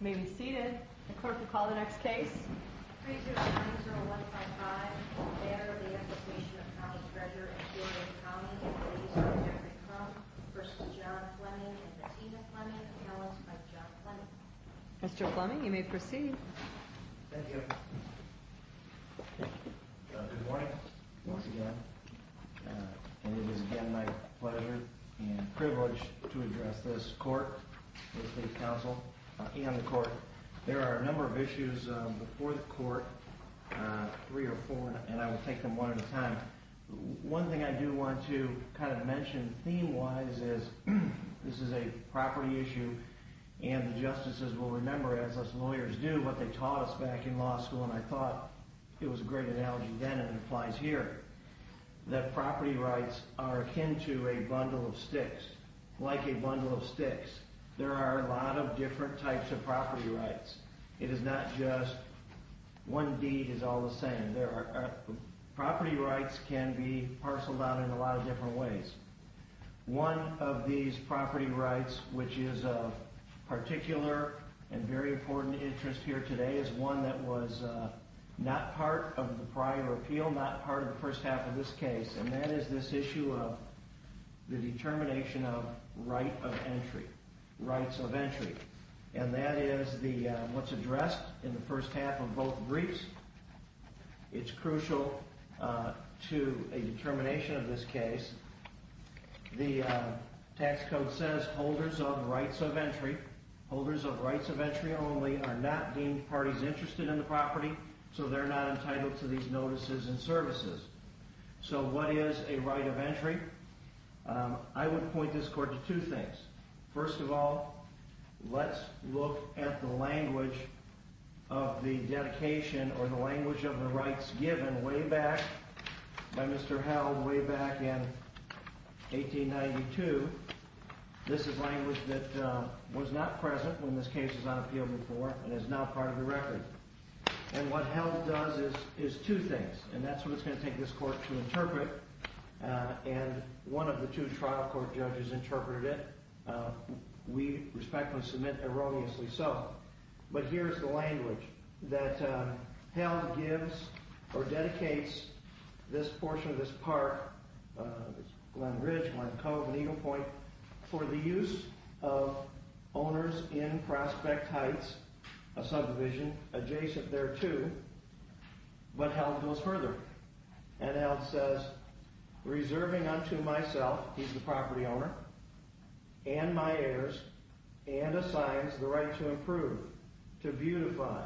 May we be seated. The clerk will call the next case. 3090155. The Matter of the Application of the County Treasurer and Peoria County Trustee for Tax Deeds v. John Fleming and Bettina Fleming, announced by John Fleming. Mr. Fleming, you may proceed. Thank you. Good morning once again. It is again my pleasure and privilege to address this court, this state council, and the court. There are a number of issues before the court, three or four, and I will take them one at a time. One thing I do want to kind of mention theme wise is this is a property issue and the justices will remember as us lawyers do what they taught us back in law school and I thought it was a great analogy then and it applies here. That property rights are akin to a bundle of sticks, like a bundle of sticks. There are a lot of different types of property rights. It is not just one deed is all the same. Property rights can be parceled out in a lot of different ways. One of these property rights, which is of particular and very important interest here today, is one that was not part of the prior appeal, not part of the first half of this case, and that is this issue of the determination of right of entry, rights of entry. And that is what is addressed in the first half of both briefs. It is crucial to a determination of this case. The tax code says holders of rights of entry, holders of rights of entry only, are not deemed parties interested in the property so they are not entitled to these notices and services. So what is a right of entry? I would point this court to two things. First of all, let's look at the language of the dedication or the language of the rights given way back by Mr. Held way back in 1892. This is language that was not present when this case was on appeal before and is now part of the record. And what Held does is two things. And that's what it's going to take this court to interpret. And one of the two trial court judges interpreted it. We respectfully submit erroneously so. But here is the language that Held gives or dedicates this portion of this part, Glen Ridge, Glen Cove, and Eagle Point, for the use of owners in Prospect Heights, a subdivision adjacent thereto, but Held goes further. And Held says, reserving unto myself, he's the property owner, and my heirs, and assigns the right to improve, to beautify,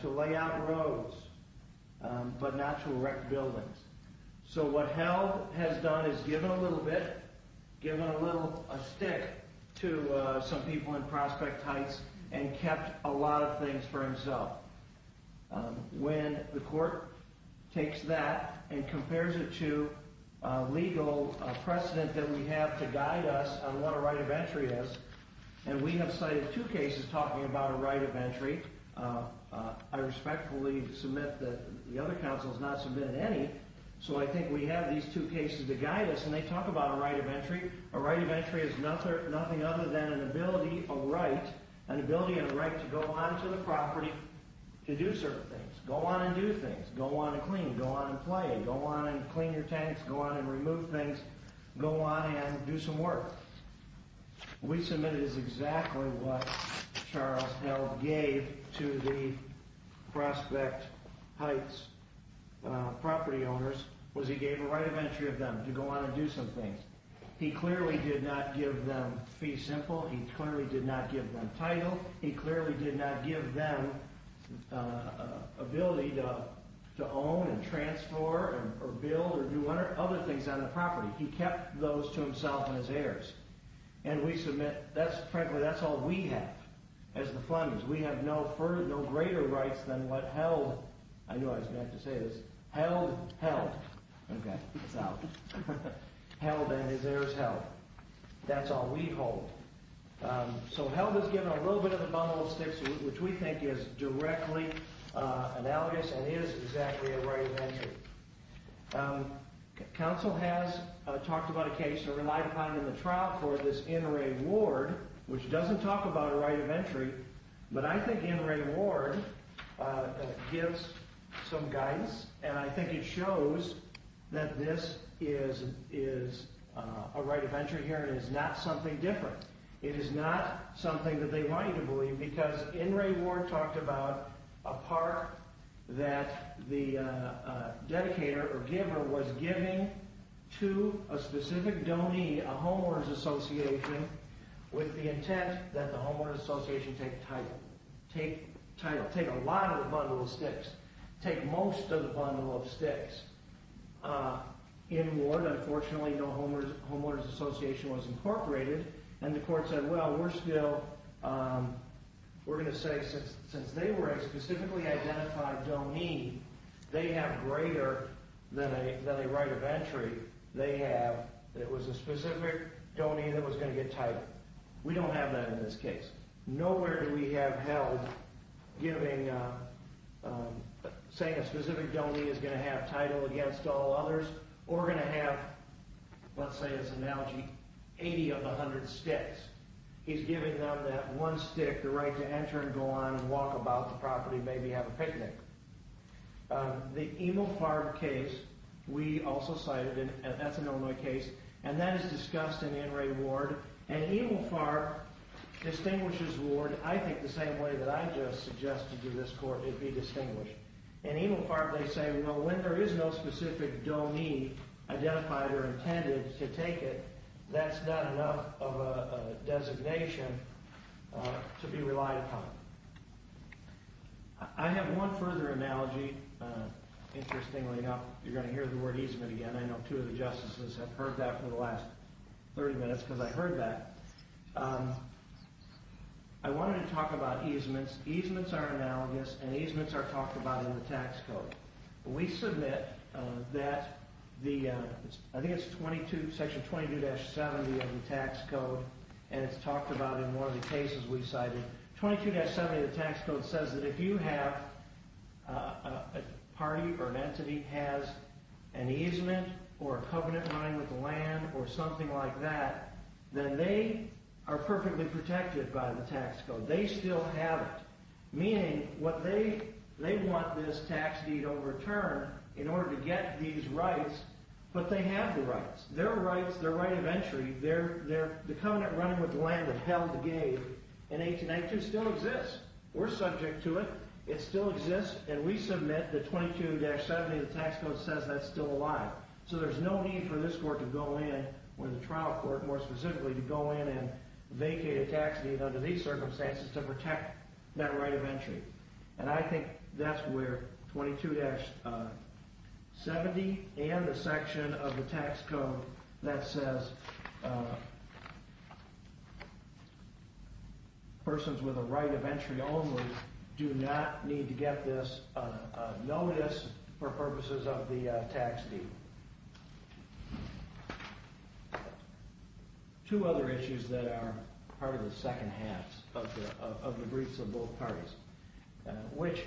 to lay out roads, but not to wreck buildings. So what Held has done is given a little bit, given a little stick to some people in Prospect Heights and kept a lot of things for himself. When the court takes that and compares it to legal precedent that we have to guide us on what a right of entry is, and we have cited two cases talking about a right of entry. I respectfully submit that the other counsel has not submitted any. So I think we have these two cases to guide us, and they talk about a right of entry. A right of entry is nothing other than an ability, a right, an ability and a right to go on to the property to do certain things. Go on and do things. Go on and clean. Go on and play. Go on and clean your tanks. Go on and remove things. Go on and do some work. What we submitted is exactly what Charles Held gave to the Prospect Heights property owners, was he gave a right of entry of them to go on and do some things. He clearly did not give them fee simple. He clearly did not give them title. He clearly did not give them ability to own and transfer or build or do other things on the property. He kept those to himself and his heirs, and we submit that's frankly that's all we have as the Flemings. We have no further, no greater rights than what Held, I know I was meant to say this, Held held. Okay, it's out. Held and his heirs held. That's all we hold. So Held has given a little bit of a bumble of sticks, which we think is directly analogous and is exactly a right of entry. Counsel has talked about a case that relied upon in the trial for this In Re Ward, which doesn't talk about a right of entry, but I think In Re Ward gives some guidance, and I think it shows that this is a right of entry here and is not something different. It is not something that they wanted to believe because In Re Ward talked about a part that the dedicator or giver was giving to a specific donee, a homeowner's association, with the intent that the homeowner's association take title, take title, take a lot of the bundle of sticks, take most of the bundle of sticks. In Ward, unfortunately, no homeowner's association was incorporated, and the court said, well, we're still, we're going to say since they were a specifically identified donee, they have greater than a right of entry. They have, it was a specific donee that was going to get title. We don't have that in this case. Nowhere do we have held giving, saying a specific donee is going to have title against all others or going to have, let's say this analogy, 80 of the 100 sticks. He's giving them that one stick, the right to enter and go on and walk about the property, maybe have a picnic. The Emil Farb case, we also cited, and that's an Illinois case, and that is discussed in In Re Ward. And Emil Farb distinguishes Ward, I think, the same way that I just suggested to this court it be distinguished. And Emil Farb, they say, well, when there is no specific donee identified or intended to take it, that's not enough of a designation to be relied upon. I have one further analogy. Interestingly enough, you're going to hear the word easement again. I know two of the justices have heard that for the last 30 minutes because I heard that. I wanted to talk about easements. Easements are analogous, and easements are talked about in the tax code. We submit that the, I think it's 22, section 22-70 of the tax code, and it's talked about in one of the cases we cited. 22-70 of the tax code says that if you have a party or an entity has an easement or a covenant running with land or something like that, then they are perfectly protected by the tax code. They still have it, meaning what they, they want this tax deed overturned in order to get these rights, but they have the rights. Their rights, their right of entry, their covenant running with land that held the gate in 1892 still exists. We're subject to it. It still exists, and we submit that 22-70 of the tax code says that's still alive. So there's no need for this court to go in, or the trial court more specifically, to go in and vacate a tax deed under these circumstances to protect that right of entry. And I think that's where 22-70 and the section of the tax code that says persons with a right of entry only do not need to get this notice for purposes of the tax deed. Two other issues that are part of the second half of the briefs of both parties, which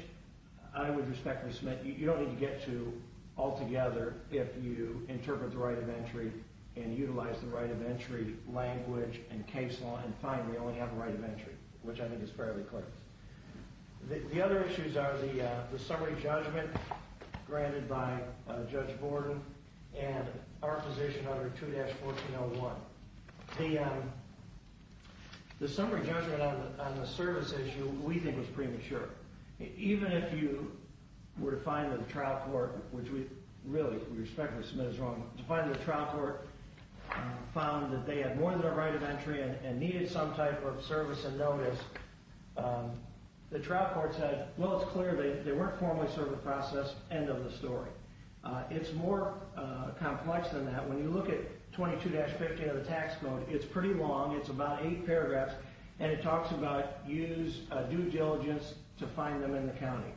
I would respectfully submit you don't need to get to altogether if you interpret the right of entry and utilize the right of entry language and case law and find we only have a right of entry, which I think is fairly clear. The other issues are the summary judgment granted by Judge Borden and our position under 2-1401. The summary judgment on the service issue we think was premature. Even if you were to find that the trial court, which we really respectfully submit is wrong, to find that the trial court found that they had more than a right of entry and needed some type of service and notice, the trial court said, well, it's clear they weren't formally served the process, end of the story. It's more complex than that. When you look at 22-50 of the tax code, it's pretty long. It's about eight paragraphs. And it talks about use due diligence to find them in the county.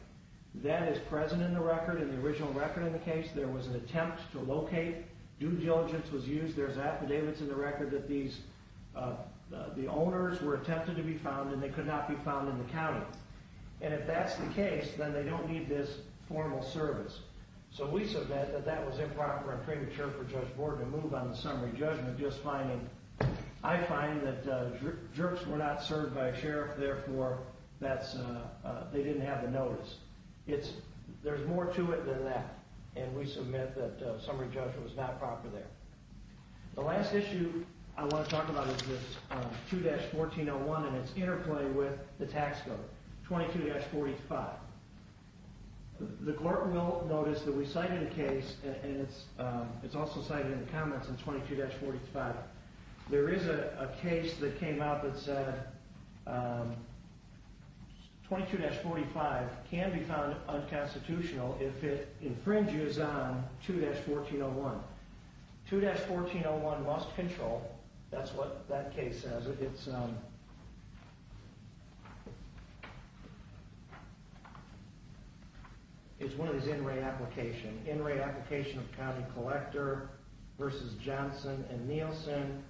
That is present in the record, in the original record in the case. There was an attempt to locate. Due diligence was used. There's affidavits in the record that the owners were attempted to be found and they could not be found in the county. And if that's the case, then they don't need this formal service. So we submit that that was improper and premature for Judge Borden to move on the summary judgment. I find that jerks were not served by a sheriff, therefore they didn't have the notice. There's more to it than that. And we submit that summary judgment was not proper there. The last issue I want to talk about is 2-1401 and its interplay with the tax code, 22-45. The clerk will notice that we cited a case and it's also cited in the comments in 22-45. There is a case that came out that said 22-45 can be found unconstitutional if it infringes on 2-1401. 2-1401 must control. That's what that case says. It's one of these in-rate applications. In-rate application of county collector versus Johnson and Nielsen,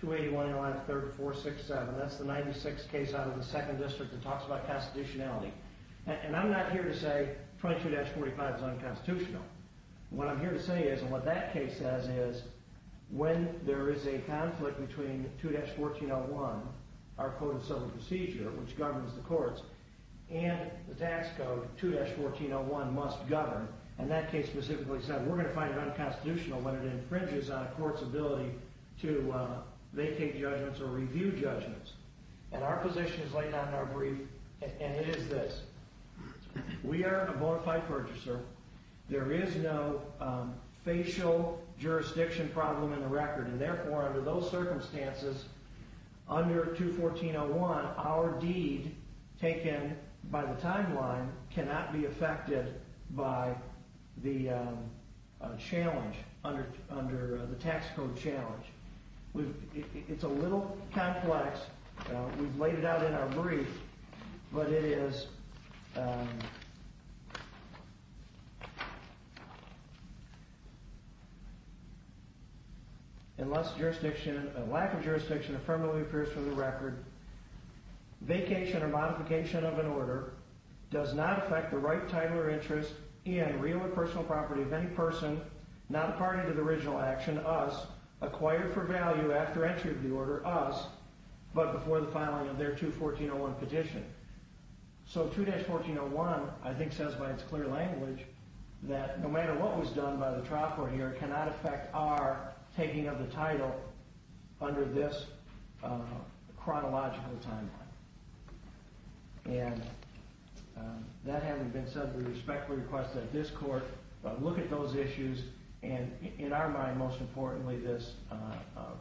281-3467. That's the 96th case out of the 2nd District that talks about constitutionality. And I'm not here to say 22-45 is unconstitutional. What I'm here to say is, and what that case says is, when there is a conflict between 2-1401, our Code of Civil Procedure, which governs the courts, and the tax code 2-1401 must govern, and that case specifically said we're going to find it unconstitutional when it infringes on a court's ability to make judgments or review judgments. And our position is laid out in our brief, and it is this. We are a bona fide purchaser. There is no facial jurisdiction problem in the record, and therefore under those circumstances, under 2-1401, our deed taken by the timeline cannot be affected by the challenge under the tax code challenge. It's a little complex. We've laid it out in our brief, but it is, unless jurisdiction, a lack of jurisdiction affirmably appears from the record, vacation or modification of an order does not affect the right title or interest in, real or personal property of any person not party to the original action, us, but before the filing of their 2-1401 petition. So 2-1401 I think says by its clear language that no matter what was done by the trial court here cannot affect our taking of the title under this chronological timeline. And that having been said, we respectfully request that this court look at those issues, and in our mind, most importantly, this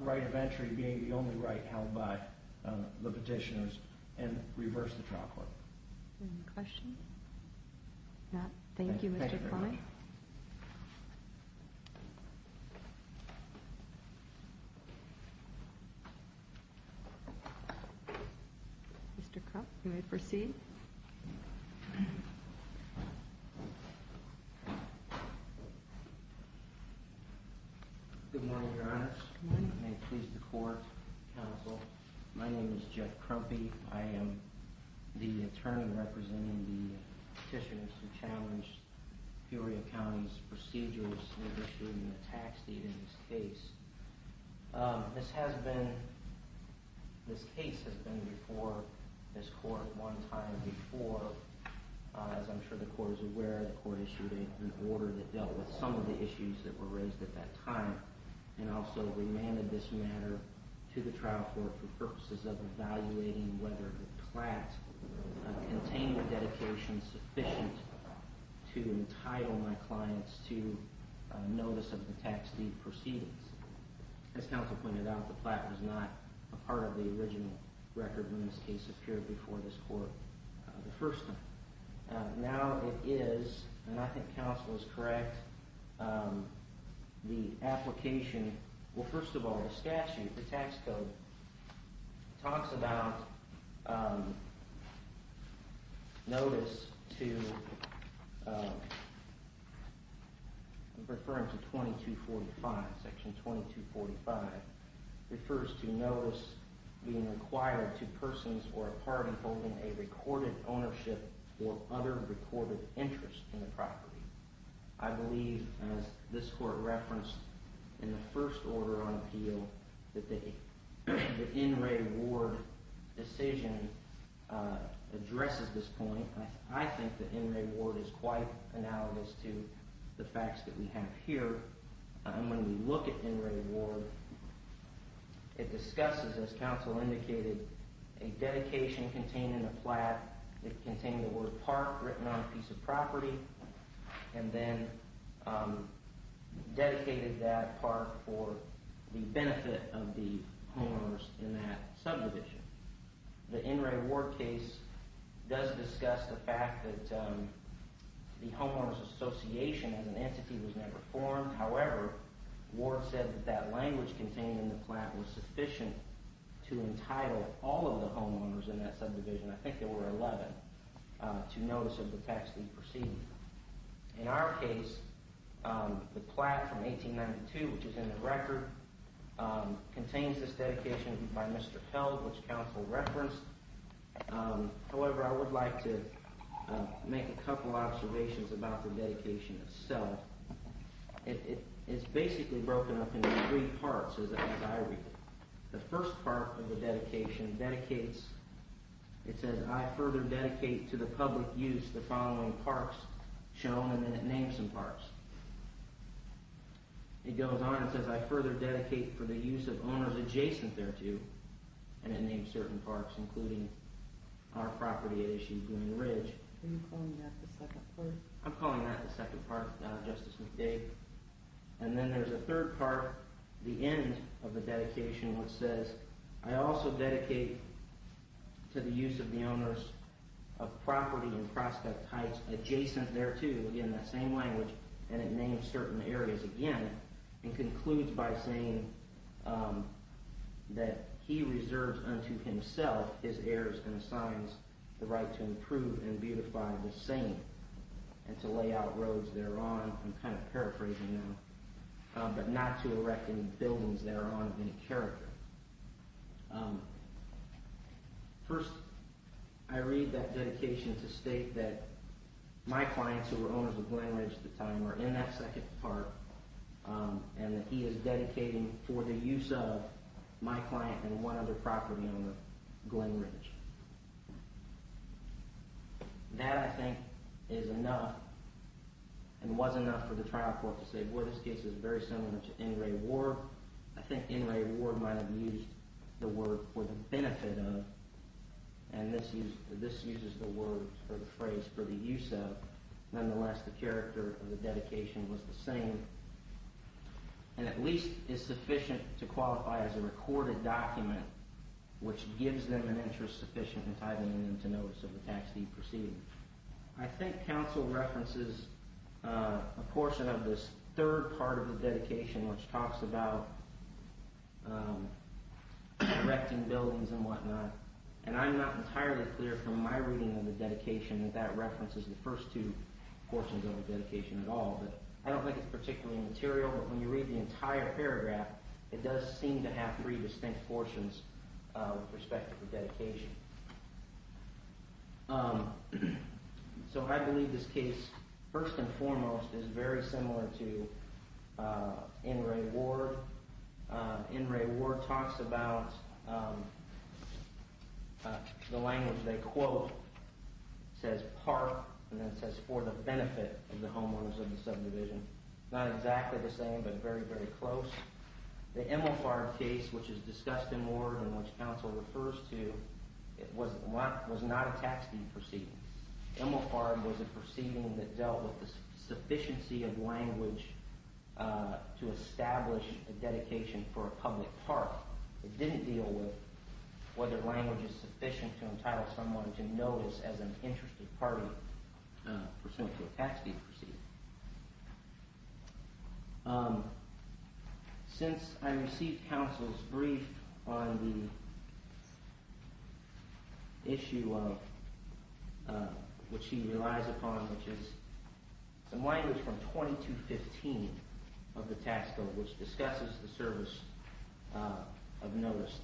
right of entry being the only right held by the petitioners and reverse the trial court. Any questions? Thank you, Mr. Kline. Mr. Krupp, you may proceed. Good morning, Your Honor. Good morning. May it please the court, counsel. My name is Jeff Kruppi. I am the attorney representing the petitioners who challenged Peoria County's procedures in issuing the tax deed in this case. This has been, this case has been before this court one time before. As I'm sure the court is aware, the court issued an order that dealt with some of the issues that were raised at that time and also remanded this matter to the trial court for purposes of evaluating whether the plat contained a dedication sufficient to entitle my clients to notice of the tax deed proceedings. As counsel pointed out, the plat was not a part of the original record when this case appeared before this court the first time. Now it is, and I think counsel is correct, the application, well, first of all, the statute, the tax code, talks about notice to, referring to 2245, section 2245, refers to notice being required to persons or a party holding a recorded ownership or other recorded interest in the property. I believe, as this court referenced in the first order on appeal, that the N. Ray Ward decision addresses this point. I think that N. Ray Ward is quite analogous to the facts that we have here. When we look at N. Ray Ward, it discusses, as counsel indicated, a dedication contained in the plat. It contained the word park written on a piece of property and then dedicated that park for the benefit of the homeowners in that subdivision. The N. Ray Ward case does discuss the fact that the homeowners association as an entity was never formed. However, Ward said that that language contained in the plat was sufficient to entitle all of the homeowners in that subdivision, I think there were 11, to notice of the tax that he perceived. In our case, the plat from 1892, which is in the record, contains this dedication by Mr. Held, which counsel referenced. However, I would like to make a couple observations about the dedication itself. It is basically broken up into three parts, as I read it. The first part of the dedication dedicates, it says, I further dedicate to the public use the following parks shown, and then it names some parks. It goes on and says, I further dedicate for the use of owners adjacent thereto, and it names certain parks, including our property at issue, Green Ridge. Are you calling that the second part? I'm calling that the second part, Justice McDade. And then there's a third part, the end of the dedication, which says, I also dedicate to the use of the owners of property and prospect heights adjacent thereto, again, that same language, and it names certain areas again, and concludes by saying that he reserves unto himself his heirs and assigns the right to improve and beautify the same, and to lay out roads thereon, I'm kind of paraphrasing now, but not to erect any buildings thereon of any character. First, I read that dedication to state that my clients, who were owners of Glen Ridge at the time, are in that second part, and that he is dedicating for the use of my client and one other property owner, Glen Ridge. That, I think, is enough and was enough for the trial court to say, boy, this case is very similar to in re ward. I think in re ward might have used the word for the benefit of, and this uses the word or the phrase for the use of. Nonetheless, the character of the dedication was the same, and at least is sufficient to qualify as a recorded document, which gives them an interest sufficient in titling them to notice of the tax deed proceeding. I think counsel references a portion of this third part of the dedication, which talks about erecting buildings and whatnot, and I'm not entirely clear from my reading of the dedication that that references the first two portions of the dedication at all. I don't think it's particularly material, but when you read the entire paragraph, it does seem to have three distinct portions with respect to the dedication. So I believe this case, first and foremost, is very similar to in re ward. In re ward talks about the language they quote, says part, and then says for the benefit of the homeowners of the subdivision. Not exactly the same, but very, very close. The Emilfard case, which is discussed in more than what counsel refers to, was not a tax deed proceeding. Emilfard was a proceeding that dealt with the sufficiency of language to establish a dedication for a public park. It didn't deal with whether language is sufficient to entitle someone to notice as an interested party pursuant to a tax deed proceeding. Since I received counsel's brief on the issue of which he relies upon, which is some language from 2215 of the tax code, which discusses the service of notice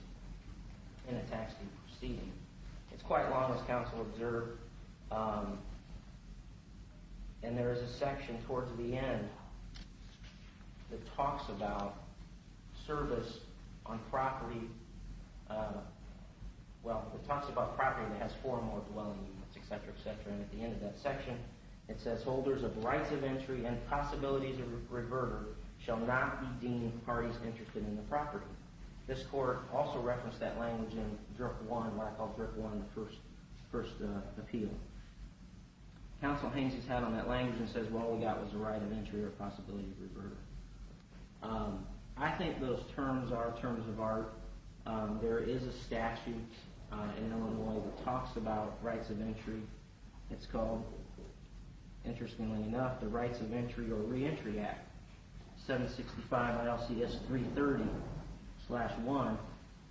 in a tax deed proceeding. It's quite long, as counsel observed, and there is a section towards the end that talks about service on property. Well, it talks about property that has four or more dwelling units, etc., etc. And at the end of that section, it says holders of rights of entry and possibilities of reverter shall not be deemed parties interested in the property. This court also referenced that language in Drip 1, what I call Drip 1, the first appeal. Counsel Haynes has had on that language and says, well, all we got was the right of entry or possibility of reverter. I think those terms are terms of art. There is a statute in Illinois that talks about rights of entry. It's called, interestingly enough, the Rights of Entry or Reentry Act, 765 ILCS 330-1.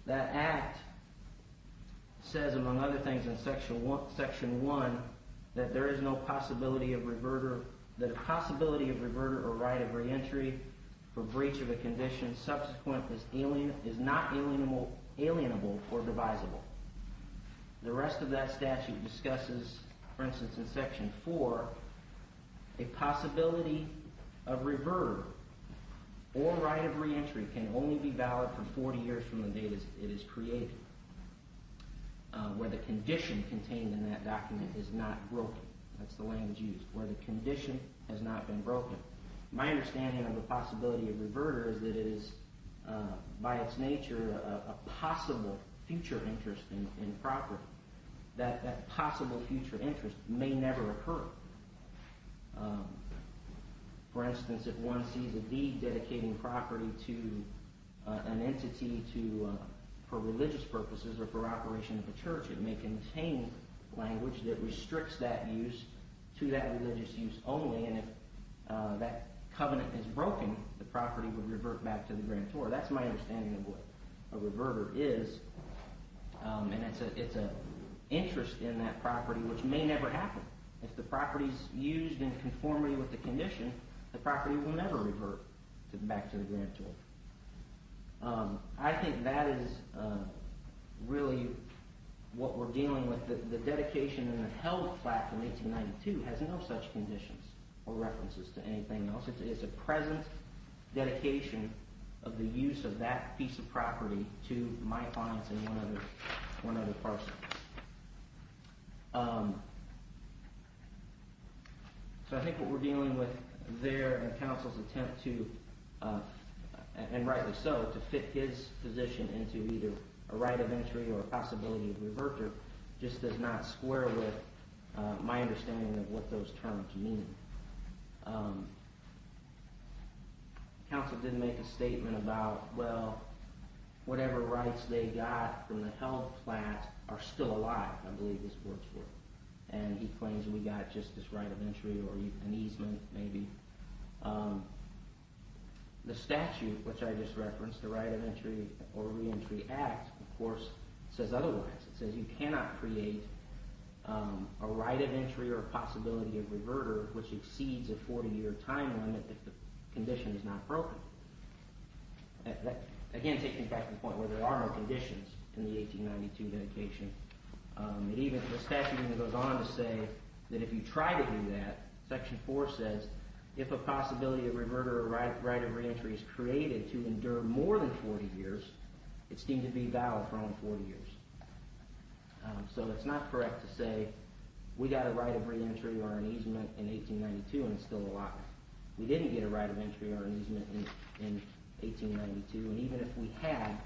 That act says, among other things, in section 1 that there is no possibility of reverter or right of reentry for breach of a condition subsequent is not alienable or devisable. The rest of that statute discusses, for instance, in section 4, a possibility of reverter or right of reentry can only be valid for 40 years from the date it is created, where the condition contained in that document is not broken. That's the language used, where the condition has not been broken. My understanding of the possibility of reverter is that it is, by its nature, a possible future interest in property. That possible future interest may never occur. For instance, if one sees a deed dedicating property to an entity for religious purposes or for operation of a church, it may contain language that restricts that use to that religious use only. And if that covenant is broken, the property would revert back to the grantor. That's my understanding of what a reverter is, and it's an interest in that property which may never happen. If the property is used in conformity with the condition, the property will never revert back to the grantor. I think that is really what we're dealing with. The dedication in the Health Act of 1892 has no such conditions or references to anything else. It's a present dedication of the use of that piece of property to my clients and one other person. So I think what we're dealing with there in counsel's attempt to, and rightly so, to fit his position into either a right of entry or a possibility of reverter just does not square with my understanding of what those terms mean. Counsel didn't make a statement about, well, whatever rights they got from the health plan are still a lot. I believe this works for them, and he claims we got just this right of entry or an easement maybe. The statute, which I just referenced, the Right of Entry or Reentry Act, of course, says otherwise. It says you cannot create a right of entry or a possibility of reverter which exceeds a 40-year time limit if the condition is not broken. Again, taking it back to the point where there are no conditions in the 1892 dedication. The statute even goes on to say that if you try to do that, Section 4 says if a possibility of reverter or right of reentry is created to endure more than 40 years, it's deemed to be valid for only 40 years. So it's not correct to say we got a right of reentry or an easement in 1892 and it's still a lot. We didn't get a right of entry or an easement in 1892, and even if we had,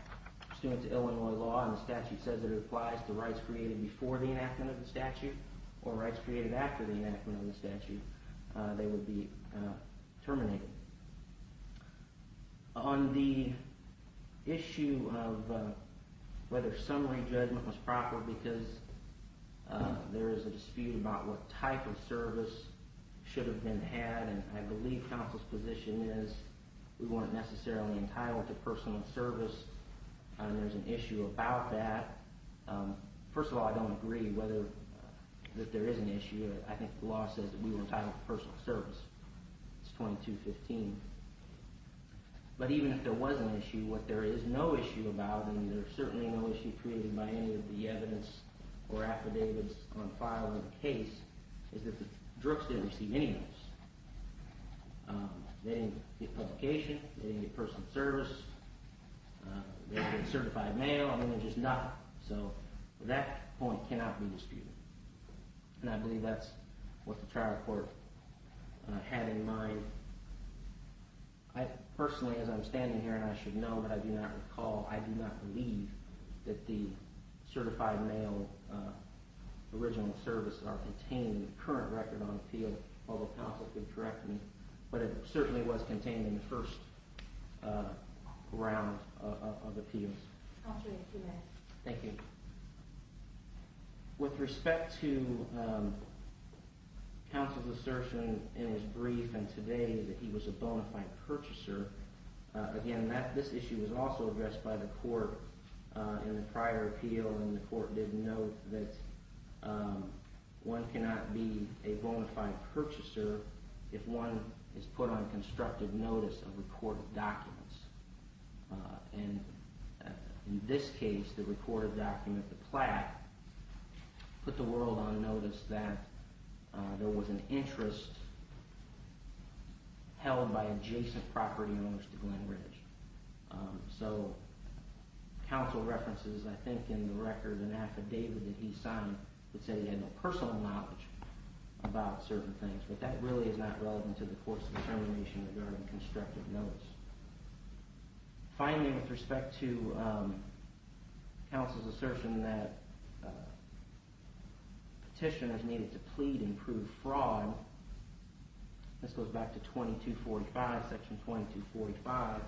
pursuant to Illinois law and the statute says it applies to rights created before the enactment of the statute or rights created after the enactment of the statute, they would be terminated. On the issue of whether summary judgment was proper, because there is a dispute about what type of service should have been had, and I believe counsel's position is we weren't necessarily entitled to personal service, and there's an issue about that. First of all, I don't agree that there is an issue. I think the law says that we were entitled to personal service. It's 2215. But even if there was an issue, what there is no issue about, and there's certainly no issue created by any of the evidence or affidavits on file in the case, is that the drugs didn't receive any notice. They didn't get publication. They didn't get personal service. They didn't get certified mail. I mean, there's just nothing, so that point cannot be disputed, and I believe that's what the trial court had in mind. Personally, as I'm standing here, and I should know, but I do not recall, I do not believe that the certified mail original services are contained in the current record on appeal, although counsel could correct me, but it certainly was contained in the first round of appeals. Thank you. With respect to counsel's assertion in his brief and today that he was a bona fide purchaser, again, this issue was also addressed by the court in the prior appeal, and the court did note that one cannot be a bona fide purchaser if one is put on constructive notice of recorded documents. And in this case, the recorded document, the plaque, put the world on notice that there was an interest held by adjacent property owners to Glen Ridge. So counsel references, I think, in the record an affidavit that he signed that said he had no personal knowledge about certain things, but that really is not relevant to the court's determination regarding constructive notice. Finally, with respect to counsel's assertion that petitioners needed to plead and prove fraud, this goes back to 2245, section 2245.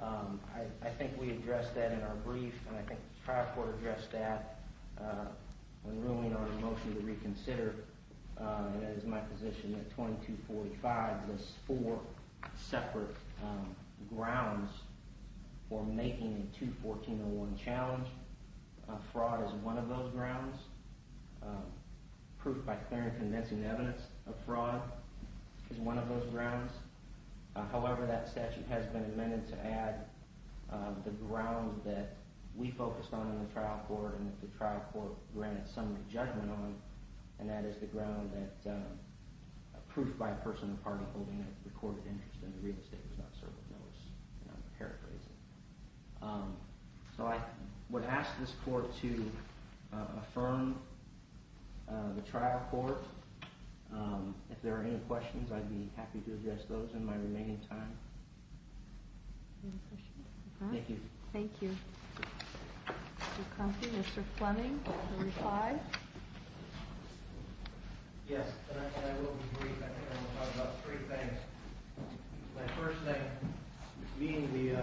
I think we addressed that in our brief, and I think the prior court addressed that when ruling on a motion to reconsider, and it is my position that 2245 lists four separate grounds for making a 21401 challenge. Fraud is one of those grounds. Proof by clear and convincing evidence of fraud is one of those grounds. However, that statute has been amended to add the ground that we focused on in the trial court and that the trial court granted some judgment on, and that is the ground that proof by a personal party holding a recorded interest in the real estate was not served with notice. So I would ask this court to affirm the trial court. If there are any questions, I'd be happy to address those in my remaining time. Thank you. Thank you. Mr. Comfey, Mr. Fleming, 25. Yes, and I will be brief. I think I'm going to talk about three things. My first thing, being the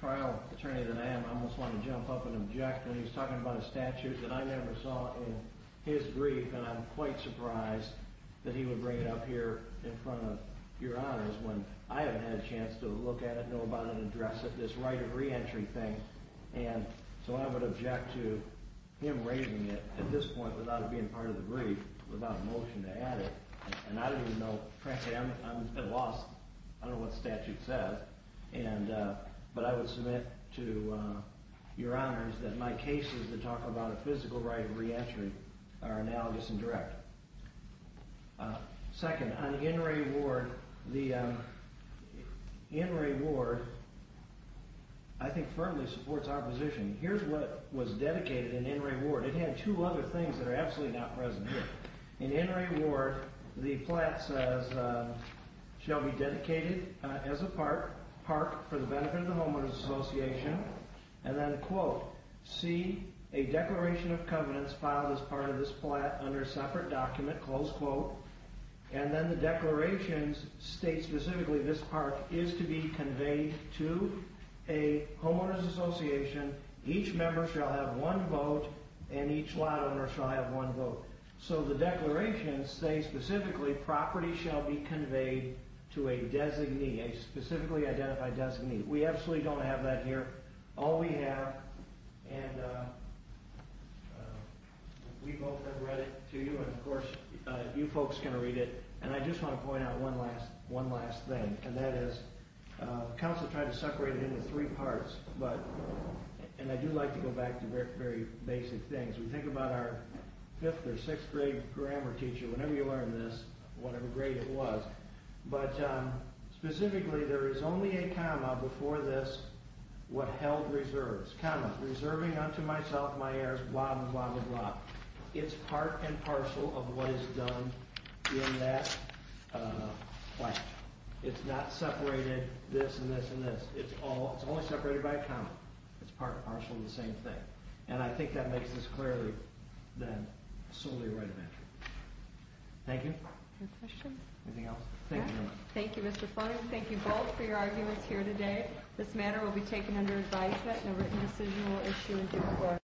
trial attorney that I am, I almost want to jump up and object when he's talking about a statute that I never saw in his brief, and I'm quite surprised that he would bring it up here in front of Your Honors when I haven't had a chance to look at it, know about it, and address it, this right of reentry thing. So I would object to him raising it at this point without it being part of the brief, without a motion to add it, and I don't even know. Frankly, I'm at a loss. I don't know what the statute says, but I would submit to Your Honors that my cases that talk about a physical right of reentry are analogous and direct. Second, on In re Ward, the In re Ward, I think, firmly supports our position. Here's what was dedicated in In re Ward. It had two other things that are absolutely not present here. In In re Ward, the plat says, shall be dedicated as a park for the benefit of the homeowners association, and then, quote, see a declaration of covenants filed as part of this plat under a separate document, close quote, and then the declarations state specifically this park is to be conveyed to a homeowners association. Each member shall have one vote, and each lot owner shall have one vote. So the declarations say specifically property shall be conveyed to a designee, a specifically identified designee. We absolutely don't have that here. All we have, and we both have read it to you, and of course, you folks are going to read it, and I just want to point out one last thing, and that is, the council tried to separate it into three parts, and I do like to go back to very basic things. We think about our fifth or sixth grade grammar teacher, whenever you learn this, whatever grade it was, but specifically, there is only a comma before this, what held reserves, comma, reserving unto myself, my heirs, blah, blah, blah. It's part and parcel of what is done in that question. It's not separated this and this and this. It's only separated by a comma. It's part and parcel of the same thing, and I think that makes this clearly then solely a right of entry. Thank you. Any questions? Anything else? Thank you very much. Thank you, Mr. Fung. Thank you both for your arguments here today. This matter will be taken under advisement in a written decisional issue in due course.